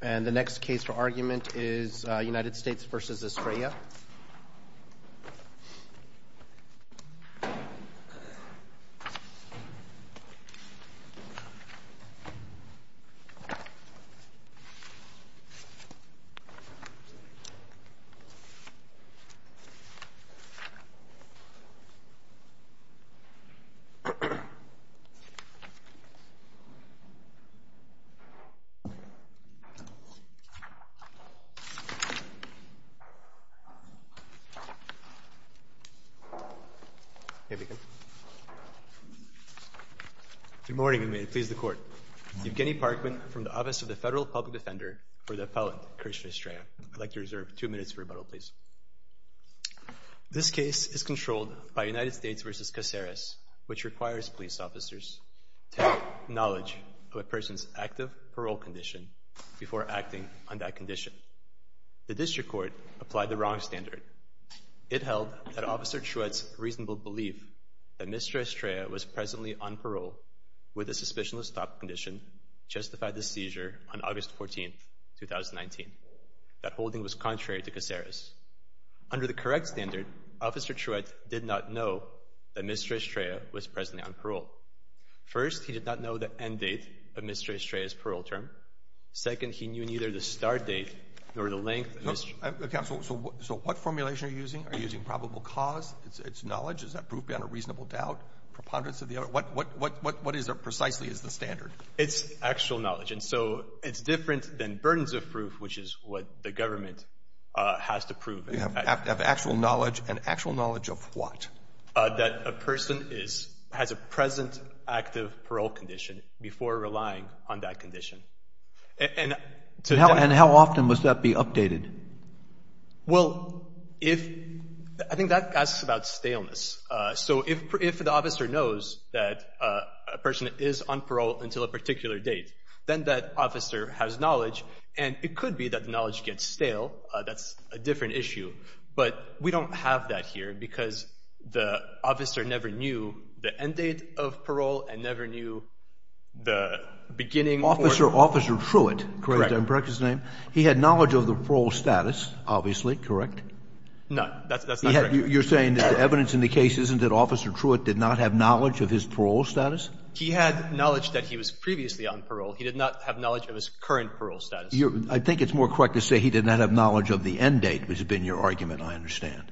And the next case for argument is United States v. Estrella. Evgeny Parkman from the Office of the Federal Public Defender for the Appellant Christian Estrella. I'd like to reserve two minutes for rebuttal, please. This case is controlled by United States v. Caceres, which requires police officers to provide knowledge of a person's active parole condition before acting on that condition. The district court applied the wrong standard. It held that Officer Truett's reasonable belief that Ms. Estrella was presently on parole with a suspicionless top condition justified the seizure on August 14, 2019. That holding was contrary to Caceres. Under the correct standard, Officer Truett did not know that Ms. Estrella was presently on parole. First, he did not know the end date of Ms. Estrella's parole term. Second, he knew neither the start date nor the length of his — Roberts. So what formulation are you using? Are you using probable cause? It's knowledge? Is that proof beyond a reasonable doubt, preponderance of the other? What is there precisely as the standard? It's actual knowledge. And so it's different than burdens of proof, which is what the government has to prove. You have actual knowledge, and actual knowledge of what? That a person is — has a present active parole condition before relying on that condition. And — And how often must that be updated? Well, if — I think that asks about staleness. So if the officer knows that a person is on parole until a particular date, then that officer has knowledge. And it could be that the knowledge gets stale. That's a different issue. But we don't have that here, because the officer never knew the end date of parole and never knew the beginning or — Officer — Officer Truitt. Correct. Correct his name? He had knowledge of the parole status, obviously. Correct? No. That's not correct. You're saying that the evidence in the case isn't that Officer Truitt did not have knowledge of his parole status? He had knowledge that he was previously on parole. He did not have knowledge of his current parole status. I think it's more correct to say he did not have knowledge of the end date, which has been your argument, I understand,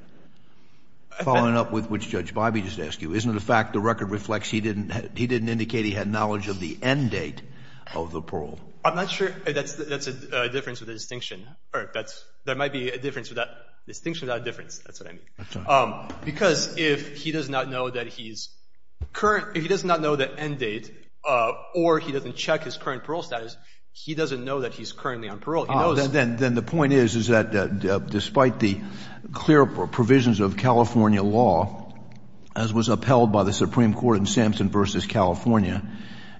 following up with what Judge Bobbie just asked you. Isn't it a fact the record reflects he didn't — he didn't indicate he had knowledge of the end date of the parole? I'm not sure that's a difference or a distinction, or that's — there might be a difference or a distinction without a difference. That's what I mean. Because if he does not know that he's current — if he does not know the end date or he doesn't check his current parole status, he doesn't know that he's currently on parole. Then the point is, is that despite the clear provisions of California law, as was upheld by the Supreme Court in Sampson v. California,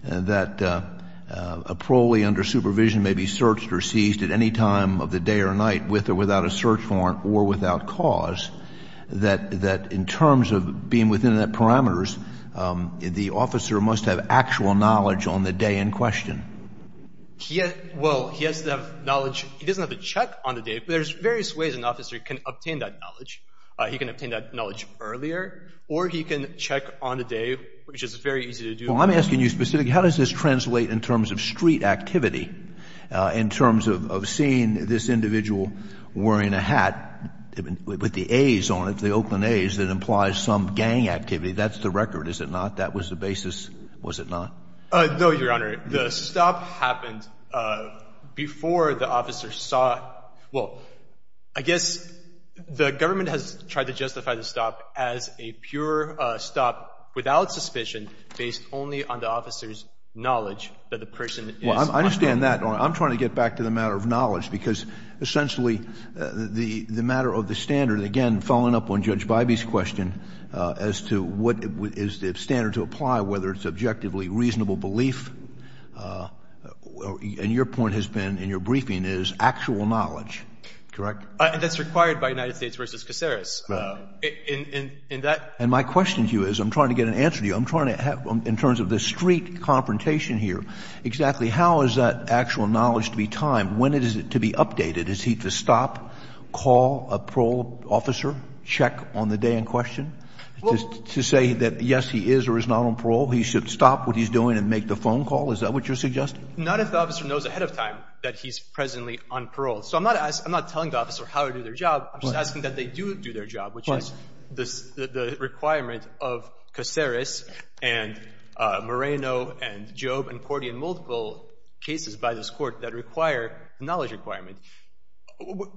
that a parolee under supervision may be searched or seized at any time of the day or night with or without a search warrant or without cause, that in terms of being within the parameters, the officer must have actual knowledge on the day in question. He has — well, he has to have knowledge — he doesn't have to check on the day, but there's various ways an officer can obtain that knowledge. He can obtain that knowledge earlier, or he can check on the day, which is very easy to do. Well, I'm asking you specifically, how does this translate in terms of street activity, in terms of seeing this individual wearing a hat with the A's on it, the Oakland A's, that implies some gang activity? That's the record, is it not? That was the basis, was it not? No, Your Honor. The stop happened before the officer saw — well, I guess the government has tried to justify the stop as a pure stop without suspicion, based only on the officer's knowledge that the person is — Well, I understand that, Your Honor. I'm trying to get back to the matter of knowledge, because essentially, the matter of the standard — again, following up on Judge Bybee's question as to what is the standard to apply, whether it's objectively reasonable belief — and your point has been, in your briefing, is actual knowledge. Correct? That's required by United States v. Caceres. And my question to you is, I'm trying to get an answer to you, I'm trying to — in terms of the street confrontation here, exactly how is that actual knowledge to be timed? When is it to be updated? Is he to stop, call a parole officer, check on the day in question to say that, yes, he is or is not on parole? He should stop what he's doing and make the phone call? Is that what you're suggesting? Not if the officer knows ahead of time that he's presently on parole. So I'm not asking — I'm not telling the officer how to do their job. I'm just asking that they do do their job, which is the requirement of Caceres and Moreno and Jobe and Cordie in multiple cases by this Court that require a knowledge requirement.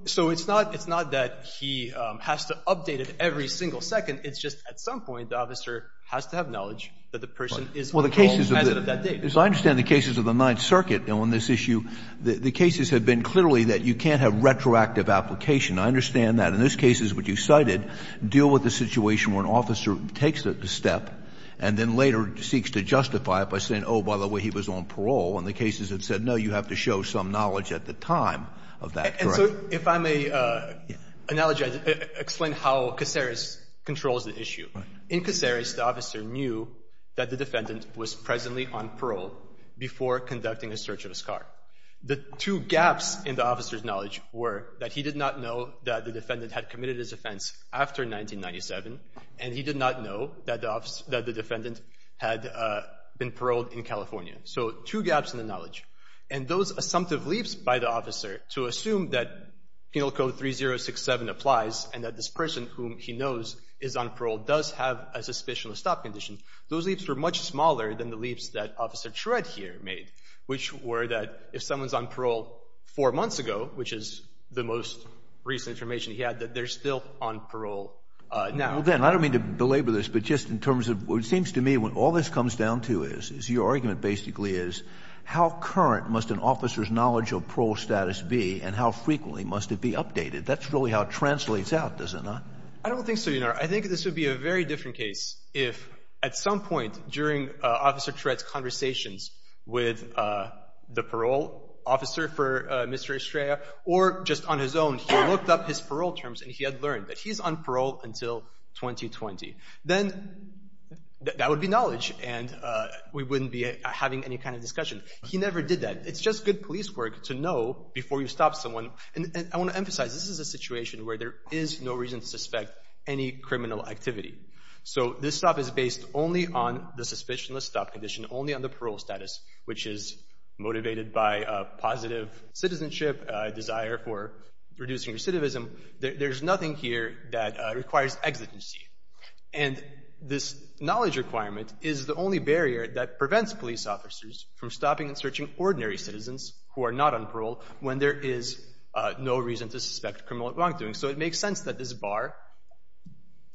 So it's not — it's not that he has to update it every single second. It's just at some point the officer has to have knowledge that the person is on parole as of that date. Well, the cases of — so I understand the cases of the Ninth Circuit on this issue. The cases have been clearly that you can't have retroactive application. I understand that. In this case, which you cited, deal with the situation where an officer takes a step and then later seeks to justify it by saying, oh, by the way, he was on parole. And the cases have said, no, you have to show some knowledge at the time of that. Correct. So if I may explain how Caceres controls the issue. In Caceres, the officer knew that the defendant was presently on parole before conducting a search of his car. The two gaps in the officer's knowledge were that he did not know that the defendant had committed his offense after 1997, and he did not know that the defendant had been paroled in California. So two gaps in the knowledge. And those assumptive leaps by the officer to assume that Penal Code 3067 applies and that this person whom he knows is on parole does have a suspicion of stop condition, those leaps were much smaller than the leaps that Officer Tread here made, which were that if someone's on parole four months ago, which is the most recent information he had, that they're still on parole now. Well, Ben, I don't mean to belabor this, but just in terms of what it seems to me when all this comes down to is your argument basically is how current must an officer's knowledge of parole status be and how frequently must it be updated? That's really how it translates out, does it not? I don't think so, Your Honor. I think this would be a very different case if at some point during Officer Tread's conversations with the parole officer for Mr. Estrella or just on his own, he looked up his parole terms and he had learned that he's on parole until 2020. Then that would be knowledge and we wouldn't be having any kind of discussion. He never did that. It's just good police work to know before you stop someone. And I want to emphasize, this is a situation where there is no reason to suspect any criminal activity. So this stop is based only on the suspicion of stop condition, only on the parole status, which is motivated by a positive citizenship, a desire for reducing recidivism. There's nothing here that requires exigency. And this knowledge requirement is the only barrier that prevents police officers from stopping and searching ordinary citizens who are not on parole when there is no reason to suspect criminal wrongdoing. So it makes sense that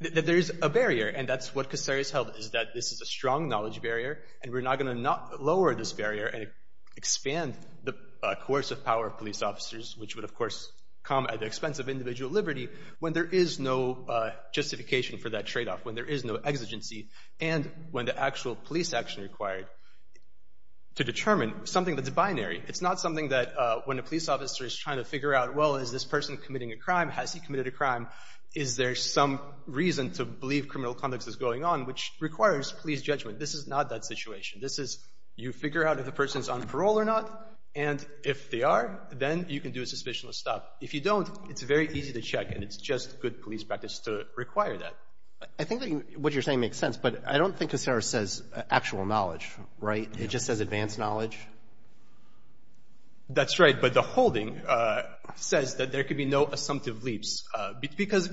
there's a barrier and that's what Casare has held is that this is a strong knowledge barrier and we're not going to lower this barrier and expand the coercive power of police officers, which would, of course, come at the expense of individual liberty when there is no justification for that trade-off, when there is no exigency and when the actual police action required to determine something that's binary. It's not something that when a police officer is trying to figure out, well, is this person committing a crime? Has he committed a crime? Is there some reason to believe criminal conduct is going on, which requires police judgment? This is not that situation. This is you figure out if a person is on parole or not, and if they are, then you can do a suspicionless stop. If you don't, it's very easy to check, and it's just good police practice to require that. I think that what you're saying makes sense, but I don't think Casare says actual knowledge, right? It just says advanced knowledge? That's right. But the holding says that there could be no assumptive leaps, because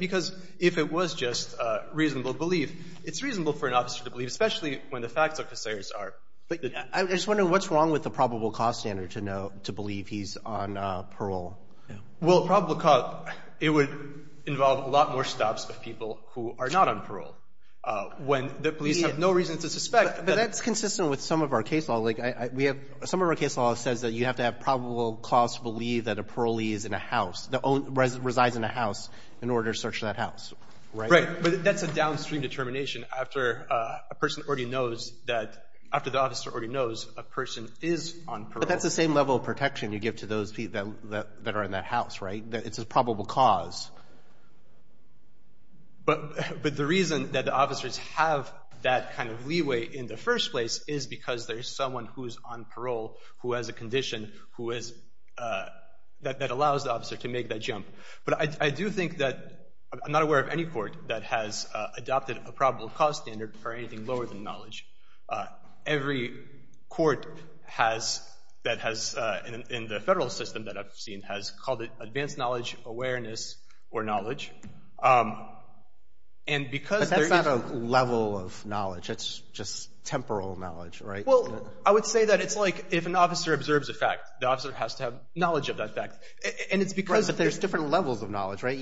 if it was just reasonable belief, it's reasonable for an officer to believe, especially when the facts of Casare's are. But I'm just wondering what's wrong with the probable cause standard to know, to believe he's on parole? Well, probable cause, it would involve a lot more stops of people who are not on parole. When the police have no reason to suspect that. But that's consistent with some of our case law. Like, we have, some of our case law says that you have to have probable cause to believe that a parolee is in a house, that resides in a house in order to search that house, right? Right. But that's a downstream determination after a person already knows that, after the officer already knows a person is on parole. But that's the same level of protection you give to those people that are in that house, right? That it's a probable cause. But the reason that the officers have that kind of leeway in the first place is because there's someone who's on parole who has a condition who is, that allows the officer to make that jump. But I do think that, I'm not aware of any court that has adopted a probable cause standard for anything lower than knowledge. Every court has, that has, in the federal system that I've seen, has called it advanced knowledge, awareness, or knowledge. And because there is- But that's not a level of knowledge. It's just temporal knowledge, right? Well, I would say that it's like, if an officer observes a fact, the officer has to have knowledge of that fact. And it's because- But there are different levels of knowledge, right?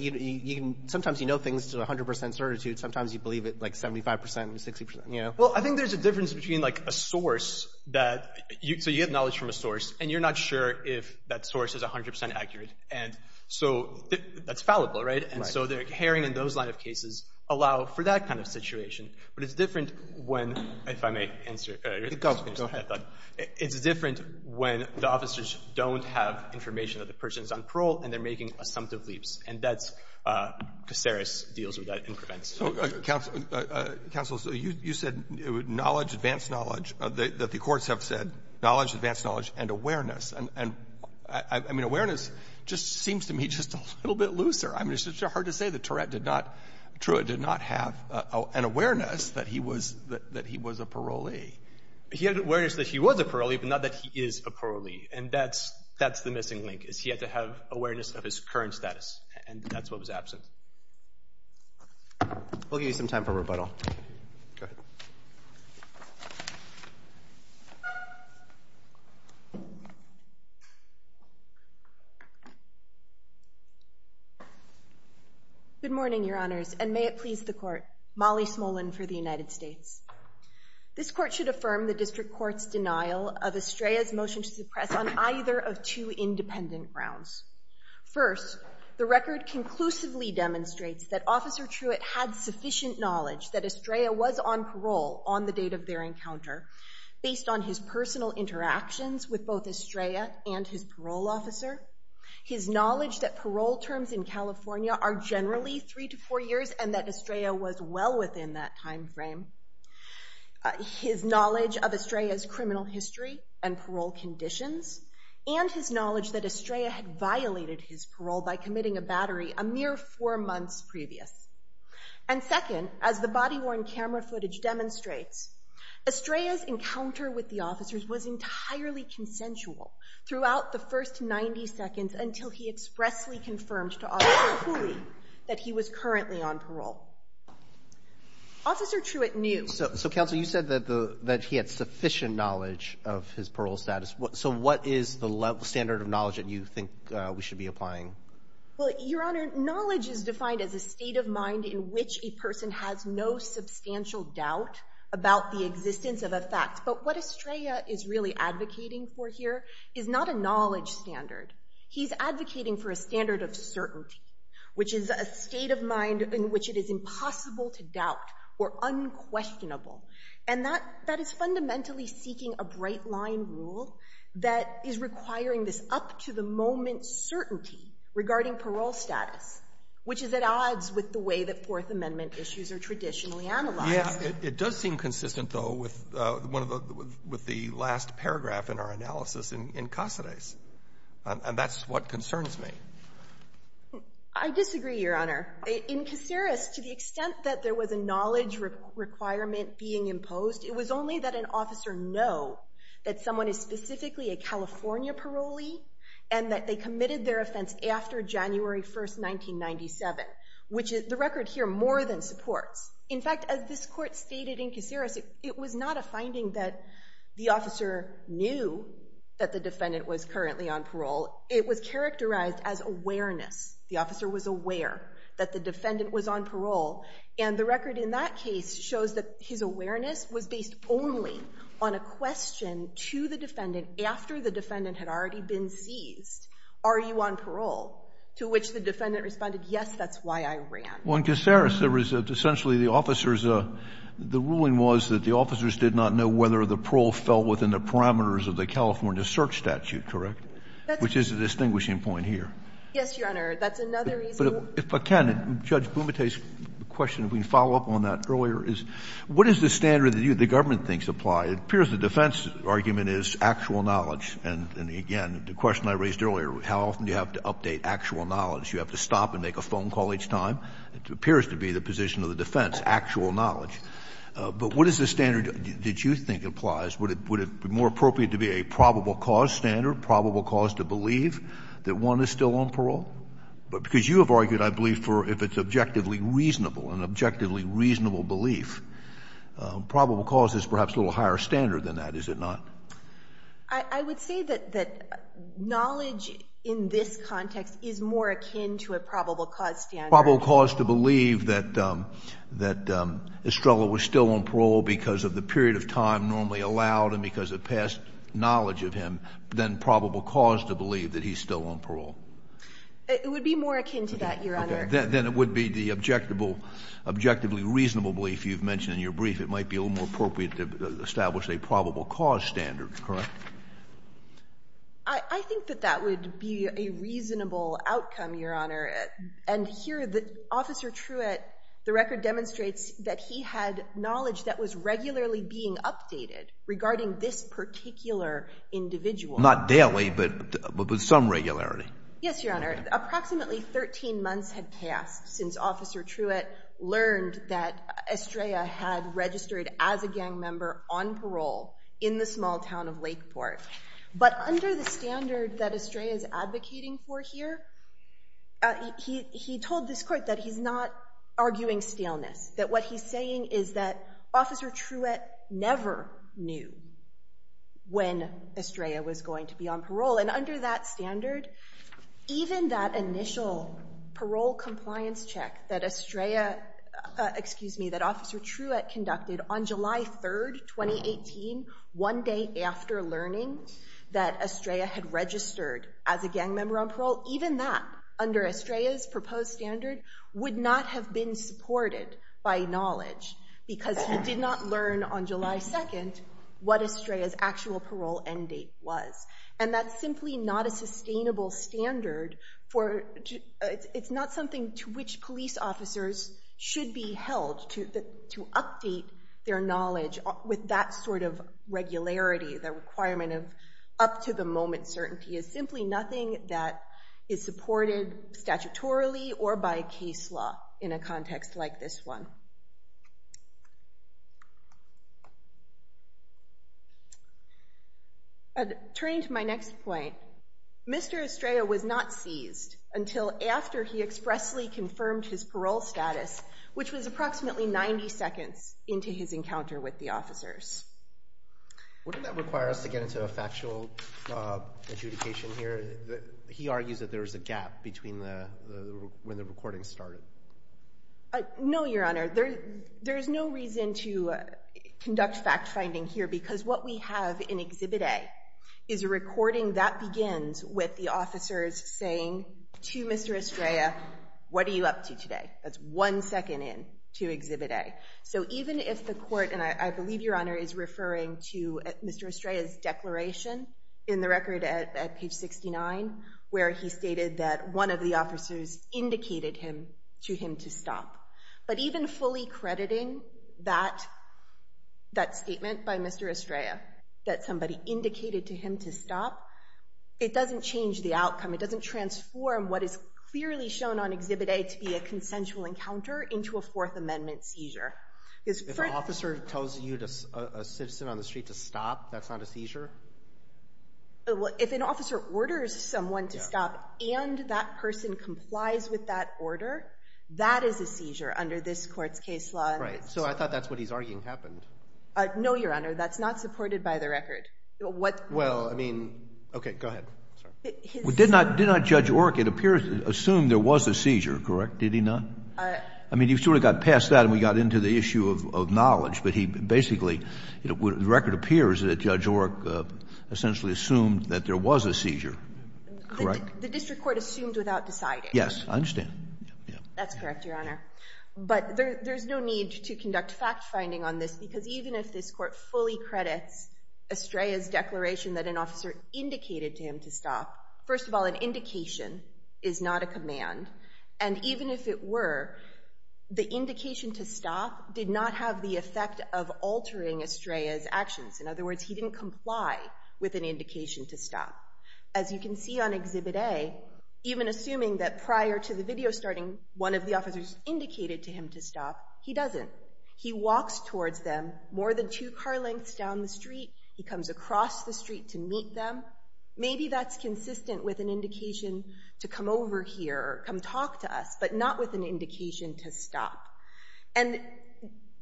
Sometimes you know things to 100% certitude. Sometimes you believe it like 75%, 60%, you know? Well, I think there's a difference between like a source that, so you get knowledge from a source, and you're not sure if that source is 100% accurate. And so that's fallible, right? And so the herring in those line of cases allow for that kind of situation. But it's different when, if I may answer- Go ahead. It's different when the officers don't have information that the person's on parole and they're making assumptive leaps. And that's, Caceres deals with that and prevents. Counsel, you said knowledge, advanced knowledge, that the courts have said, knowledge, advanced knowledge, and awareness. And I mean, awareness just seems to me just a little bit looser. I mean, it's just so hard to say that Tourette did not, Truett did not have an awareness that he was a parolee. He had awareness that he was a parolee, but not that he is a parolee. And that's the missing link. He had to have awareness of his current status, and that's what was absent. We'll give you some time for rebuttal. Go ahead. Good morning, Your Honors, and may it please the Court. Molly Smolin for the United States. This Court should affirm the District Court's denial of Estrella's motion to suppress on either of two independent grounds. First, the record conclusively demonstrates that Officer Truett had sufficient knowledge that Estrella was on parole on the date of their encounter based on his personal interactions with both Estrella and his parole officer, his knowledge that parole terms in California are generally three to four years and that Estrella was well within that time frame, his knowledge of Estrella's criminal history and parole conditions, and his knowledge that Estrella had violated his parole by committing a battery a mere four months previous. And second, as the body-worn camera footage demonstrates, Estrella's encounter with the officers was entirely consensual throughout the first 90 seconds until he expressly confirmed to Officer Cooley that he was currently on parole. Officer Truett knew. So, Counsel, you said that he had sufficient knowledge of his parole status. So what is the standard of knowledge that you think we should be applying? Well, Your Honor, knowledge is defined as a state of mind in which a person has no substantial doubt about the existence of a fact. But what Estrella is really advocating for here is not a knowledge standard. He's advocating for a standard of certainty, which is a state of mind in which it is impossible to doubt or unquestionable. And that is fundamentally seeking a bright-line rule that is requiring this up-to-the-moment certainty regarding parole status, which is at odds with the way that Fourth Amendment issues are traditionally analyzed. Yeah. It does seem consistent, though, with one of the — with the last paragraph in our case, and that's what concerns me. I disagree, Your Honor. In Caceres, to the extent that there was a knowledge requirement being imposed, it was only that an officer know that someone is specifically a California parolee and that they committed their offense after January 1, 1997, which the record here more than supports. In fact, as this Court stated in Caceres, it was not a finding that the officer knew that the defendant was currently on parole. It was characterized as awareness. The officer was aware that the defendant was on parole. And the record in that case shows that his awareness was based only on a question to the defendant after the defendant had already been seized. Are you on parole? To which the defendant responded, yes, that's why I ran. Well, in Caceres, there was essentially the officers — the ruling was that the officers did not know whether the parole fell within the parameters of the California search statute, correct, which is a distinguishing point here. Yes, Your Honor. That's another reason. But, Ken, Judge Bumate's question, if we can follow up on that earlier, is what is the standard that the government thinks apply? It appears the defense argument is actual knowledge. And again, the question I raised earlier, how often do you have to update actual knowledge? Do you have to stop and make a phone call each time? It appears to be the position of the defense, actual knowledge. But what is the standard that you think applies? Would it be more appropriate to be a probable cause standard, probable cause to believe that one is still on parole? Because you have argued, I believe, for if it's objectively reasonable, an objectively reasonable belief, probable cause is perhaps a little higher standard than that, is it not? I would say that knowledge in this context is more akin to a probable cause standard. Probable cause to believe that Estrella was still on parole because of the period of time normally allowed and because of past knowledge of him than probable cause to believe that he's still on parole. It would be more akin to that, Your Honor. Okay. Then it would be the objectively reasonable belief you've mentioned in your brief it might be a little more appropriate to establish a probable cause standard, correct? I think that that would be a reasonable outcome, Your Honor. And here, Officer Truitt, the record demonstrates that he had knowledge that was regularly being updated regarding this particular individual. Not daily, but with some regularity. Yes, Your Honor. Approximately 13 months had passed since Officer Truitt learned that Estrella had registered as a gang member on parole in the small town of Lakeport. But under the standard that Estrella is advocating for here, he told this court that he's not arguing staleness. That what he's saying is that Officer Truitt never knew when Estrella was going to be on parole. And under that standard, even that initial parole compliance check that Officer Truitt conducted on July 3, 2018, one day after learning that Estrella had registered as a gang member on parole, even that, under Estrella's proposed standard, would not have been supported by knowledge because he did not learn on July 2 what Estrella's actual parole end date was. And that's simply not a sustainable standard. It's not something to which police officers should be held to update their knowledge with that sort of regularity, the requirement of up-to-the-moment certainty. It's simply nothing that is supported statutorily or by case law in a context like this one. Turning to my next point, Mr. Estrella was not seized until after he expressly confirmed his parole status, which was approximately 90 seconds into his encounter with the officers. Wouldn't that require us to get into a factual adjudication here? He argues that there is a gap between when the recording started. No, Your Honor. There is no reason to conduct fact-finding here because what we have in Exhibit A is a recording that begins with the officers saying to Mr. Estrella, what are you up to today? That's one second in to Exhibit A. So even if the court, and I believe Your Honor is referring to Mr. Estrella's declaration in the record at page 69 where he stated that one of the officers indicated to him to stop. But even fully crediting that statement by Mr. Estrella that somebody indicated to him to stop, it doesn't change the outcome. It doesn't transform what is clearly shown on Exhibit A to be a consensual encounter into a Fourth Amendment seizure. If an officer tells a citizen on the street to stop, that's not a seizure? If an officer orders someone to stop and that person complies with that order, that is a seizure under this court's case law. So I thought that's what he's arguing happened. No, Your Honor. That's not supported by the record. Well, I mean, okay, go ahead. Did not Judge Orrick, it appears, assume there was a seizure, correct? Did he not? I mean, you sort of got past that and we got into the issue of knowledge. But he basically, the record appears that Judge Orrick essentially assumed that there was a seizure, correct? The district court assumed without deciding. Yes, I understand. That's correct, Your Honor. But there's no need to conduct fact-finding on this because even if this court fully credits Estrella's declaration that an officer indicated to him to stop, first of all, an indication is not a command. And even if it were, the indication to stop did not have the effect of altering Estrella's actions. In other words, he didn't comply with an indication to stop. As you can see on Exhibit A, even assuming that prior to the video starting, one of the officers indicated to him to stop, he doesn't. He walks towards them more than two car lengths down the street. He comes across the street to meet them. Maybe that's consistent with an indication to come over here or come talk to us, but not with an indication to stop. And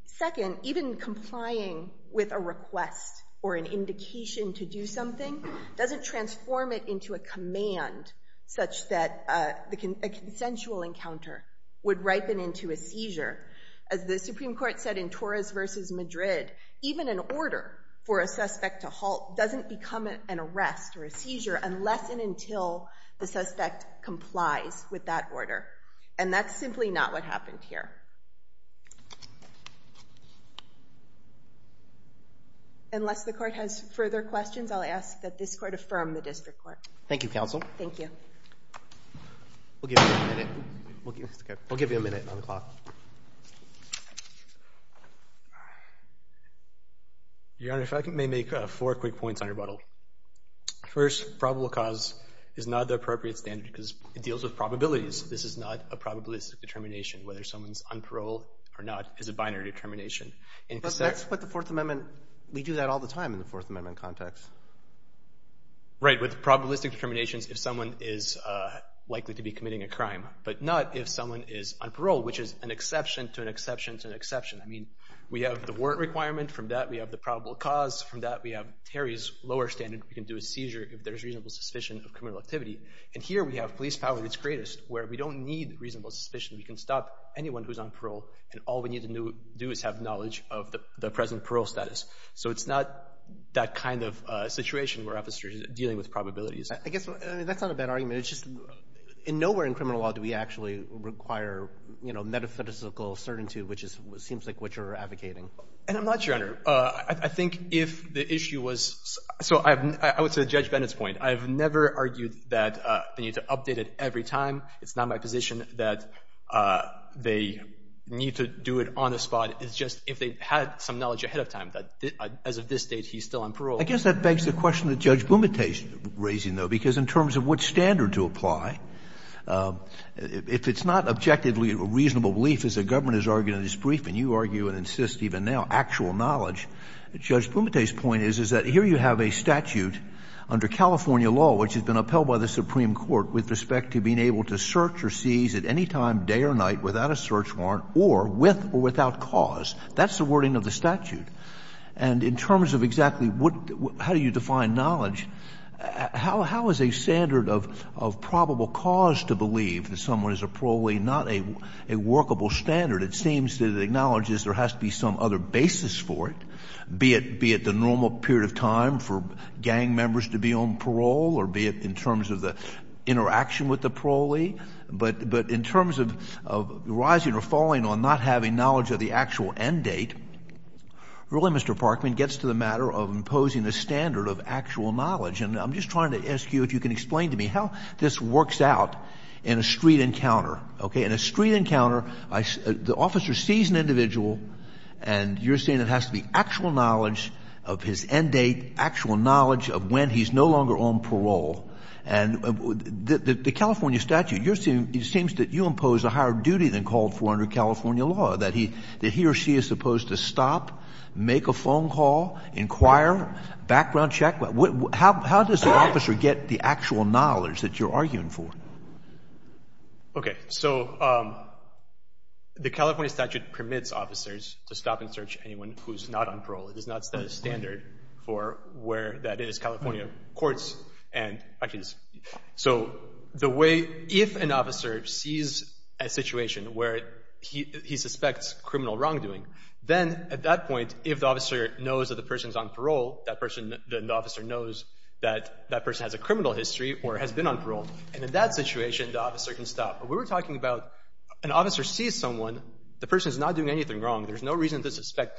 second, even complying with a request or an indication to do something doesn't transform it into a command such that a consensual encounter would ripen into a seizure. As the Supreme Court said in Torres v. Madrid, even an order for a suspect to halt doesn't become an arrest or a seizure unless and until the suspect complies with that order. And that's simply not what happened here. Unless the Court has further questions, I'll ask that this Court affirm the District Court. Thank you, Counsel. Thank you. We'll give you a minute. We'll give you a minute on the clock. Your Honor, if I may make four quick points on your bottle. First, probable cause is not the appropriate standard because it deals with probabilities. This is not a probabilistic determination. Whether someone's on parole or not is a binary determination. But that's what the Fourth Amendment... We do that all the time in the Fourth Amendment context. Right, with probabilistic determinations, if someone is likely to be committing a crime, but not if someone is on parole, which is an exception to an exception to an exception. We have the warrant requirement from that. We have the probable cause from that. We have Terry's lower standard. We can do a seizure if there's reasonable suspicion of criminal activity. And here we have police power at its greatest where we don't need reasonable suspicion. We can stop anyone who's on parole and all we need to do is have knowledge of the present parole status. So it's not that kind of situation where officers are dealing with probabilities. I guess that's not a bad argument. It's just nowhere in criminal law do we actually require, you know, metaphysical certainty, which seems like what you're advocating. And I'm not sure, Your Honor. I think if the issue was... So I would say Judge Bennett's point. I've never argued that they need to update it every time. It's not my position that they need to do it on the spot. It's just if they had some knowledge ahead of time that as of this date he's still on parole. I guess that begs the question that Judge Bumate's raising, though, because in terms of which standard to apply, if it's not objectively reasonable belief as the government has argued in this briefing, you argue and insist even now, actual knowledge, Judge Bumate's point is, is that here you have a statute under California law which has been upheld by the Supreme Court with respect to being able to search or seize at any time, day or night, without a search warrant or with or without cause. That's the wording of the statute. And in terms of exactly how do you define knowledge, how is a standard of probable cause to believe that someone is a parolee not a workable standard? It seems that it acknowledges there has to be some other basis for it, be it the normal period of time for gang members to be on parole or be it in terms of the interaction with the parolee. But in terms of rising or falling on not having knowledge of the actual end date, really, Mr Parkman, gets to the matter of imposing a standard of actual knowledge. And I'm just trying to ask you if you can explain to me how this works out in a street encounter. In a street encounter, the officer sees an individual and you're saying it has to be actual knowledge of his end date, actual knowledge of when he's no longer on parole. The California statute, it seems that you impose a higher duty than called for under California law that he or she is supposed to stop, make a phone call, inquire, background check. How does the officer get the actual knowledge that you're arguing for? Okay. So, the California statute permits officers to stop and search anyone who's not on parole. It does not set a standard for where that is. California courts and, so the way, if an officer sees a situation where he suspects criminal wrongdoing, then, at that point, if the officer knows that the person's on parole, then the officer knows that that person has a criminal history or has been on parole. And in that situation, the officer can stop. But we were talking about, an officer sees someone, the person's not doing anything wrong. There's no reason to suspect,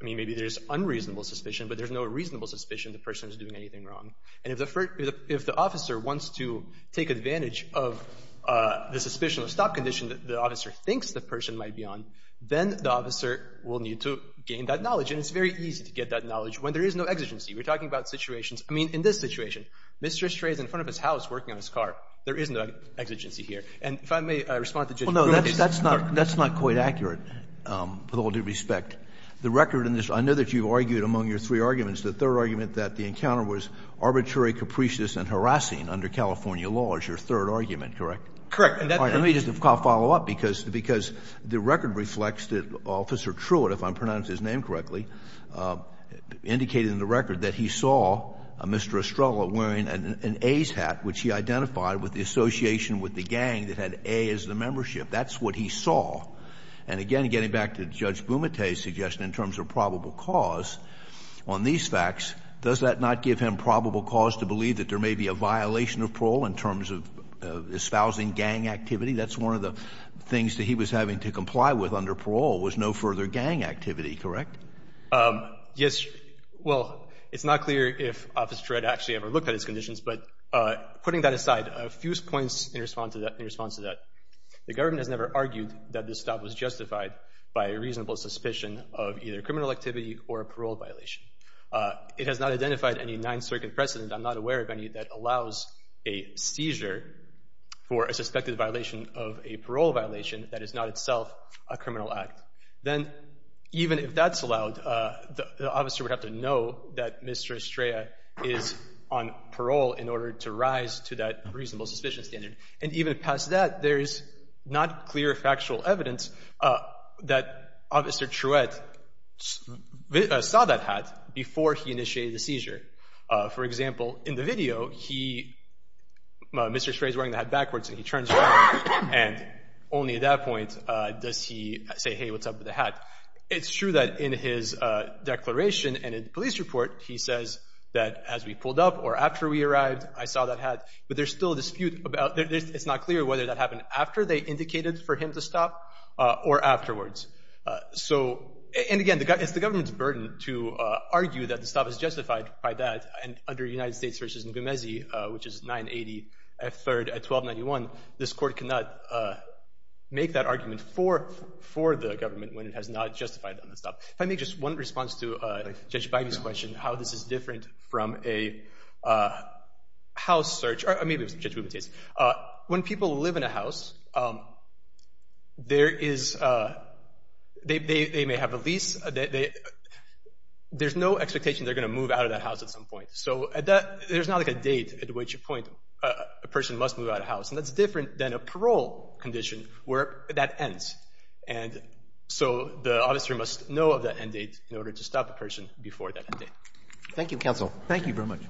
I mean, maybe there's unreasonable suspicion, but there's no reasonable suspicion the person's doing anything wrong. And if the officer wants to take advantage of the suspicional stop condition that the officer thinks the person might be on, then the officer will need to gain that knowledge. And it's very easy to gain that knowledge when there is no exigency. We're talking about situations, I mean, in this situation, Mr. Estrada's in front of his house working on his car. There is no exigency here. And if I may respond to Judge Brewer. Well, no, that's not quite accurate with all due respect. The record in this, I know that you argued among your three arguments, the third argument that the encounter was arbitrary, capricious and harassing under California law is your third argument, correct? Correct. Let me just follow up because the record reflects that Officer Truitt, if I'm pronouncing his name correctly, indicated in the record that he saw Mr. Estrada wearing an A's hat which he identified with the association with the gang that had A as the membership. That's what he saw. And again, getting back to Judge Bumate's suggestion in terms of probable cause on these facts, does that not give him probable cause to believe that there may be a violation of parole in terms of espousing gang activity? That's one of the things that he was having to comply with under parole was no further gang activity, correct? Yes. Well, it's not clear if Officer Truitt actually ever looked at his conditions, but putting that aside, a few points in response to that. The government has never argued that this stop was justified by a reasonable suspicion of either criminal activity or a parole violation. It has not identified any Ninth Circuit precedent I'm not aware of any that allows a seizure for a suspected violation of a parole violation that is not itself a criminal act. Then, even if that's allowed, the officer would have to know that Mr. Estrada is on parole in order to rise to that reasonable suspicion standard. And even past that, there is not clear factual evidence that Officer Truitt saw that hat before he initiated the seizure. For example, in the video, he Mr. Estrada is wearing the hat backwards and he turns around and only at that point does he say, hey, what's up with the hat? It's true that in his declaration and in the police report, he says that as we pulled up or after we arrived I saw that hat. But there's still a dispute about, it's not clear whether that happened after they indicated for him to stop or afterwards. And again, it's the government's burden to argue that the stop is justified by that. And under United States v. Nguemesi, which is 980 F. 3rd at 1291, this court cannot make that argument for the government when it has not justified on the stop. If I make just one response to Judge Bidey's question, how this is different from a house search, or maybe it's Judge Bidey's. When people live in a house, there is they may have a lease, there's no expectation they're going to move out of that house at some point. So there's not like a date at which point a person must move out of the house. And that's different than a parole condition where that ends. So the officer must know of that end date in order to stop a person before that end date. Thank you, Counsel. Thank you very much.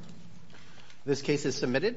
This case is submitted.